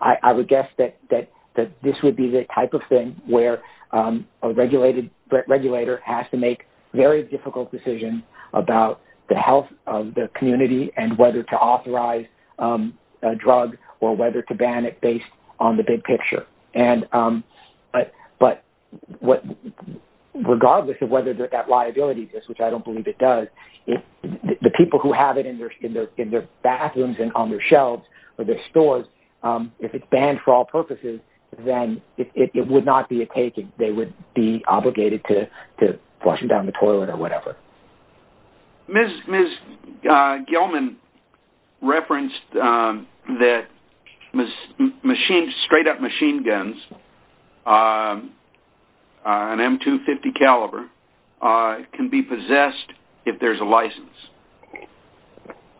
I would guess that that that this would be the type of thing where a regulated regulator has to make very difficult decisions about the health of the community and whether to authorize a ban it based on the big picture and but but what regardless of whether that liability exists which I don't believe it does it the people who have it in their in their in their bathrooms and on their shelves or their stores if it's banned for all purposes then it would not be a taking they would be obligated to washing down the toilet or whatever miss miss Gilman referenced that miss machine straight-up machine guns an m250 caliber can be possessed if there's a license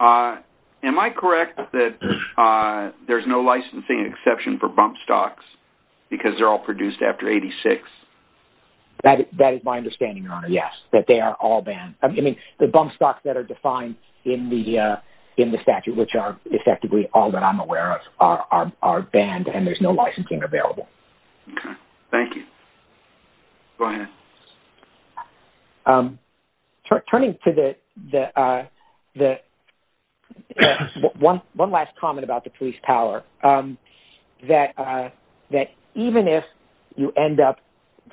am I correct that there's no licensing exception for bump stocks because they're all produced after 86 that is my understanding your honor yes that they are all banned I mean the bump stocks that are defined in the in the statute which are effectively all that I'm aware of are banned and there's no licensing available thank you turning to the the one one last comment about the police power that that even if you end up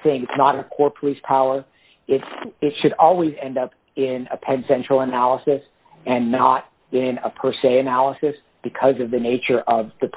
saying it's not a core police power it it should always end up in a Penn Central analysis and not in a per se analysis because of the nature of the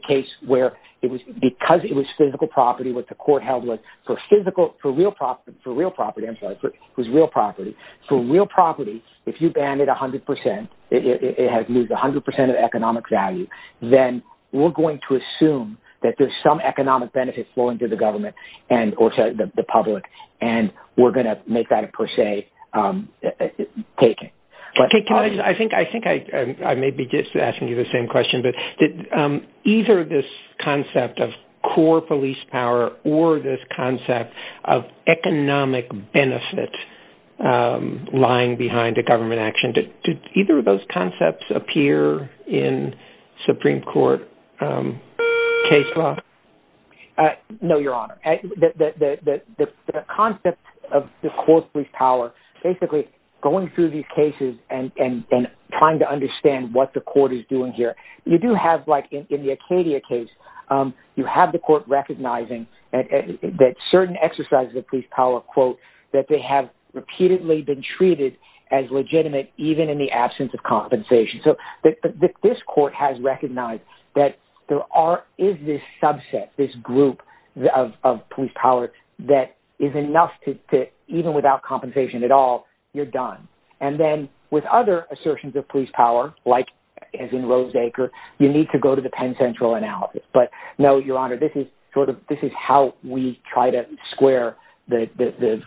case where it was because it was physical property with the court held with for physical for real profit for real property I'm sorry but who's real property for real property if you ban it a hundred percent it has moved a hundred percent of economic value then we're going to assume that there's some economic benefit flowing to the government and or the public and we're going to make that a per se taking but I think I think I I may be just asking you the same question but did either this concept of core police power or this concept of economic benefit lying behind a government action did either of those concepts appear in Supreme Court case law no your honor the concept of the core police power basically going through these cases and and trying to you do have like in the Acadia case you have the court recognizing that certain exercises of police power quote that they have repeatedly been treated as legitimate even in the absence of compensation so that this court has recognized that there are is this subset this group of police power that is enough to fit even without compensation at all you're done and then with other assertions of police power like as in Roseacre you need to go to the Penn Central analysis but no your honor this is sort of this is how we try to square the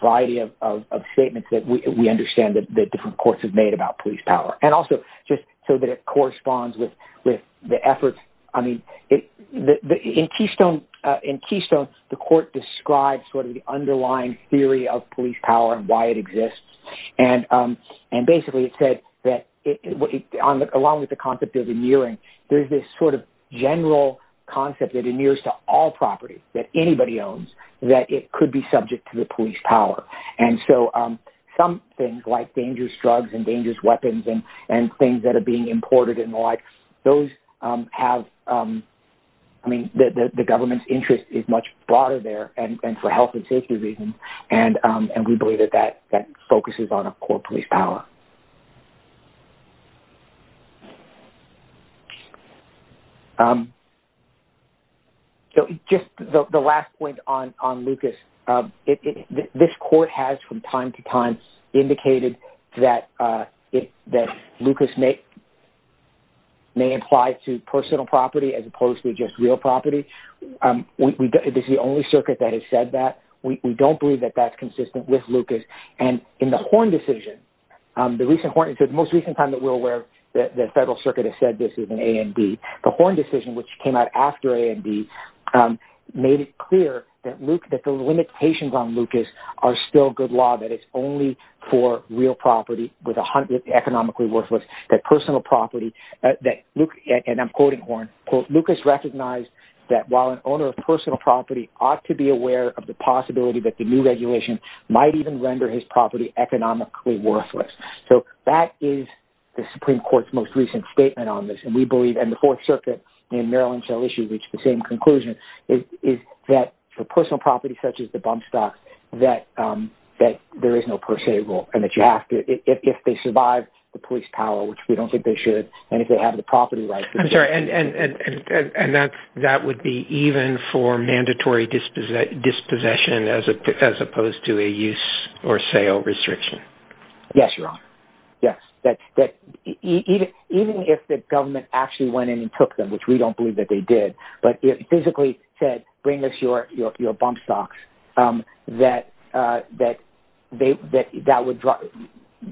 variety of statements that we understand that the different courts have made about police power and also just so that it corresponds with with the efforts I mean it in Keystone in Keystone the court described sort of the underlying theory of police power and why it exists and and basically it said that along with the concept of the nearing there's this sort of general concept that it nears to all property that anybody owns that it could be subject to the police power and so some things like dangerous drugs and dangerous weapons and and things that are being imported in the like those have I mean that the government's interest is much broader there and for health and safety reasons and and we believe that that that focuses on a core police power so just the last point on on Lucas if this court has from time to time indicated that if that Lucas make may apply to personal property as opposed to just real property we this is the only circuit that has said that we don't believe that that's consistent with Lucas and in the horn decision the recent Horn said most recent time that we're aware that the federal circuit has said this is an AMD the horn decision which came out after AMD made it clear that Luke that the limitations on Lucas are still good law that it's only for real property with a hundred economically worthless that personal property that Luke and I'm quoting horn quote Lucas recognized that while an owner of personal property ought to be aware of the possibility that the new regulation might even render his property economically worthless so that is the Supreme Court's most recent statement on this and we believe and the Fourth Circuit in Maryland shall issue reach the same conclusion is that for personal property such as the bump stop that that there is no per se rule and that you have to if they survive the police power which we don't think they should and if they have the property right I'm sorry and and and that that would be even for mandatory disposition dispossession as a as opposed to a use or sale restriction yes your honor yes that's that even if the government actually went in and took them which we don't believe that they did but if physically said bring us your your bump stocks that that they that that would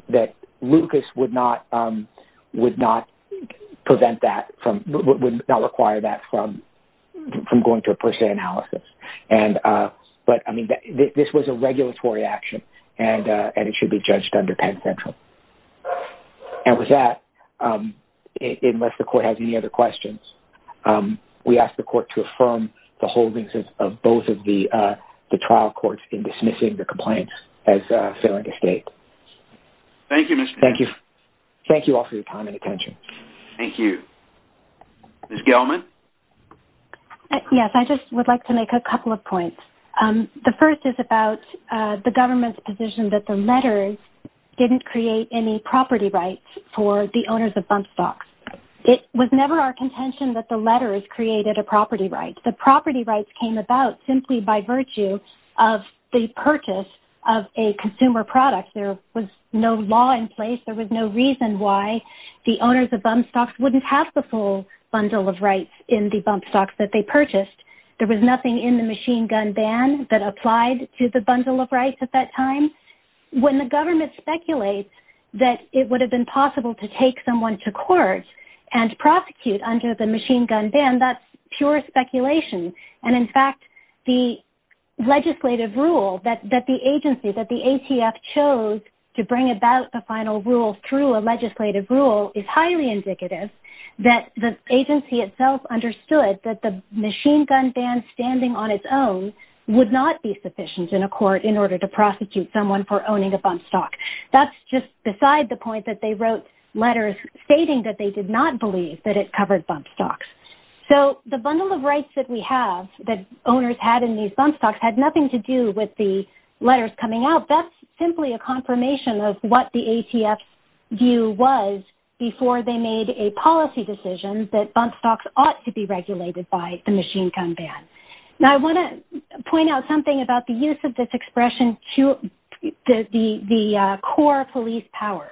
that Lucas would not would not prevent that from would not require that from from going to a per se analysis and but I mean that this was a regulatory action and and it should be judged under Penn Central and with that unless the court has any other questions we ask the court to affirm the holdings of both of the trial courts in dismissing the complaints as failing to state thank you mr. thank you thank you all for your time and attention thank you miss Gellman yes I just would like to make a couple of points the first is about the government's position that the letters didn't create any property rights for the owners of bump stocks it was never our contention that the letters created a property right the property rights came about simply by virtue of the purchase of a consumer product there was no law in place there was no reason why the owners of bump stocks wouldn't have the full bundle of rights in the bump stocks that they purchased there was nothing in the machine gun ban that applied to the bundle of rights at that time when the government speculates that it would have been possible to take someone to court and prosecute under the machine gun ban that's pure speculation and in fact the legislative rule that that the agency that the ATF chose to bring about the final rule through a legislative rule is highly indicative that the agency itself understood that the machine gun ban standing on its own would not be sufficient in a court in order to prosecute someone for owning a bump stock that's just beside the point that they wrote letters stating that they did not believe that it covered bump stocks so the bundle of rights that we have that owners had in these bump stocks had nothing to do with the letters coming out that's simply a confirmation of what the ATF view was before they made a policy decision that bump stocks ought to be regulated by the machine gun ban now I want to point out something about the use of this expression to the the core police powers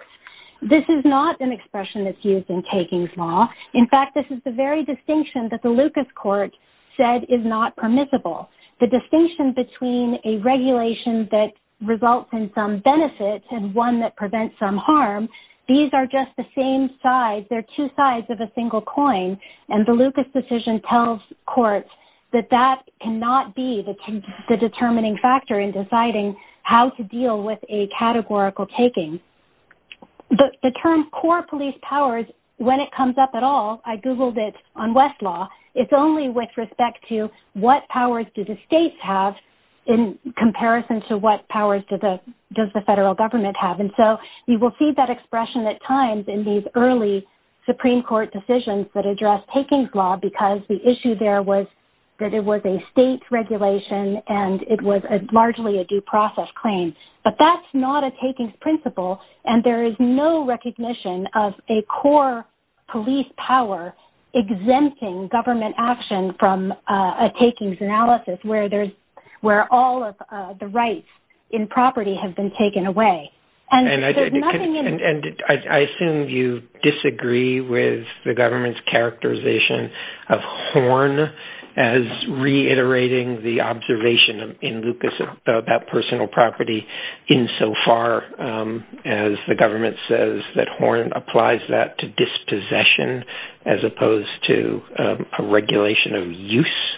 this is not an expression that's used in takings law in fact this is the very distinction that the Lucas court said is not permissible the distinction between a regulation that results in some benefits and one that prevents some harm these are just the same size they're two sides of a single coin and the Lucas decision tells courts that that cannot be the determining factor in deciding how to deal with a categorical taking but the term core police powers when it comes up at all I googled it on West law it's only with respect to what powers do the states have in comparison to what powers to the does the federal government have and so you will see that expression at times in these early Supreme Court decisions that address takings law because the issue there was that it was a state regulation and it was a largely a due process claim but that's not a takings principle and there is no recognition of a core police power exempting government action from a takings analysis where there's where all of the rights in property have been taken away and I assume you disagree with the government's characterization of horn as reiterating the observation in Lucas about personal property in so far as the government says that horn applies that to dispossession as opposed to a regulation of use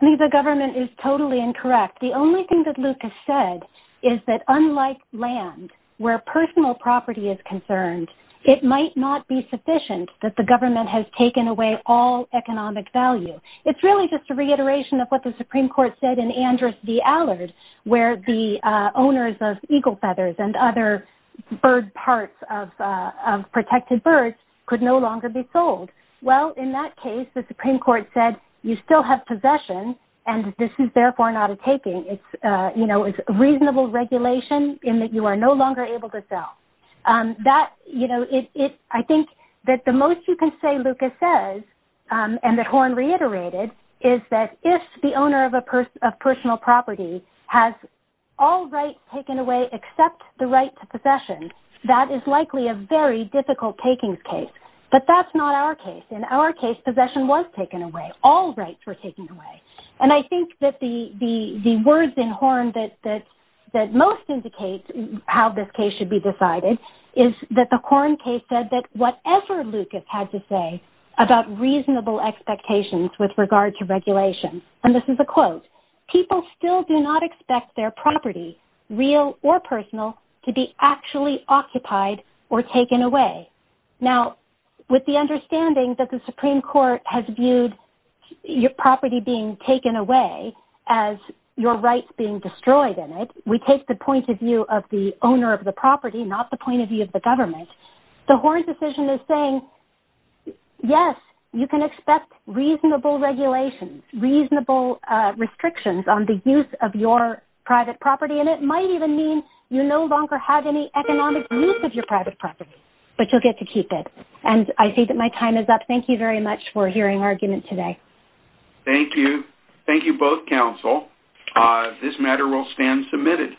the government is totally incorrect the only thing that Lucas said is that unlike land where personal property is concerned it might not be sufficient that the government has taken away all economic value it's really just a reiteration of what the Supreme Court said in Andrews v. Allard where the owners of eagle feathers and other bird parts of protected birds could no longer be sold well in that case the Supreme Court said you still have possession and this is therefore not a taking it's you know it's reasonable regulation in that you are no longer able to sell that you know it I think that the most you can say Lucas says and that horn reiterated is that if the owner of a person of personal property has all rights taken away except the right to possession that is likely a very difficult takings case but that's not our case in our case possession was taken away all rights were taken away and I think that the the the words in horn that that that most indicates how this case should be decided is that the corn case said that whatever Lucas had to say about reasonable expectations with regard to regulation and this is a quote people still do not expect their property real or personal to be actually occupied or taken away now with the understanding that the Supreme Court has viewed your property being taken away as your rights being destroyed in it we take the point of view of the owner of the property not the point of view of the government the horn decision is saying yes you can expect reasonable regulation reasonable restrictions on the use of your private property and it might even mean you no longer have any economic use of your private property but you'll get to keep it and I think that my time is up thank you very much for hearing argument today thank you thank you both counsel this matter will stand submitted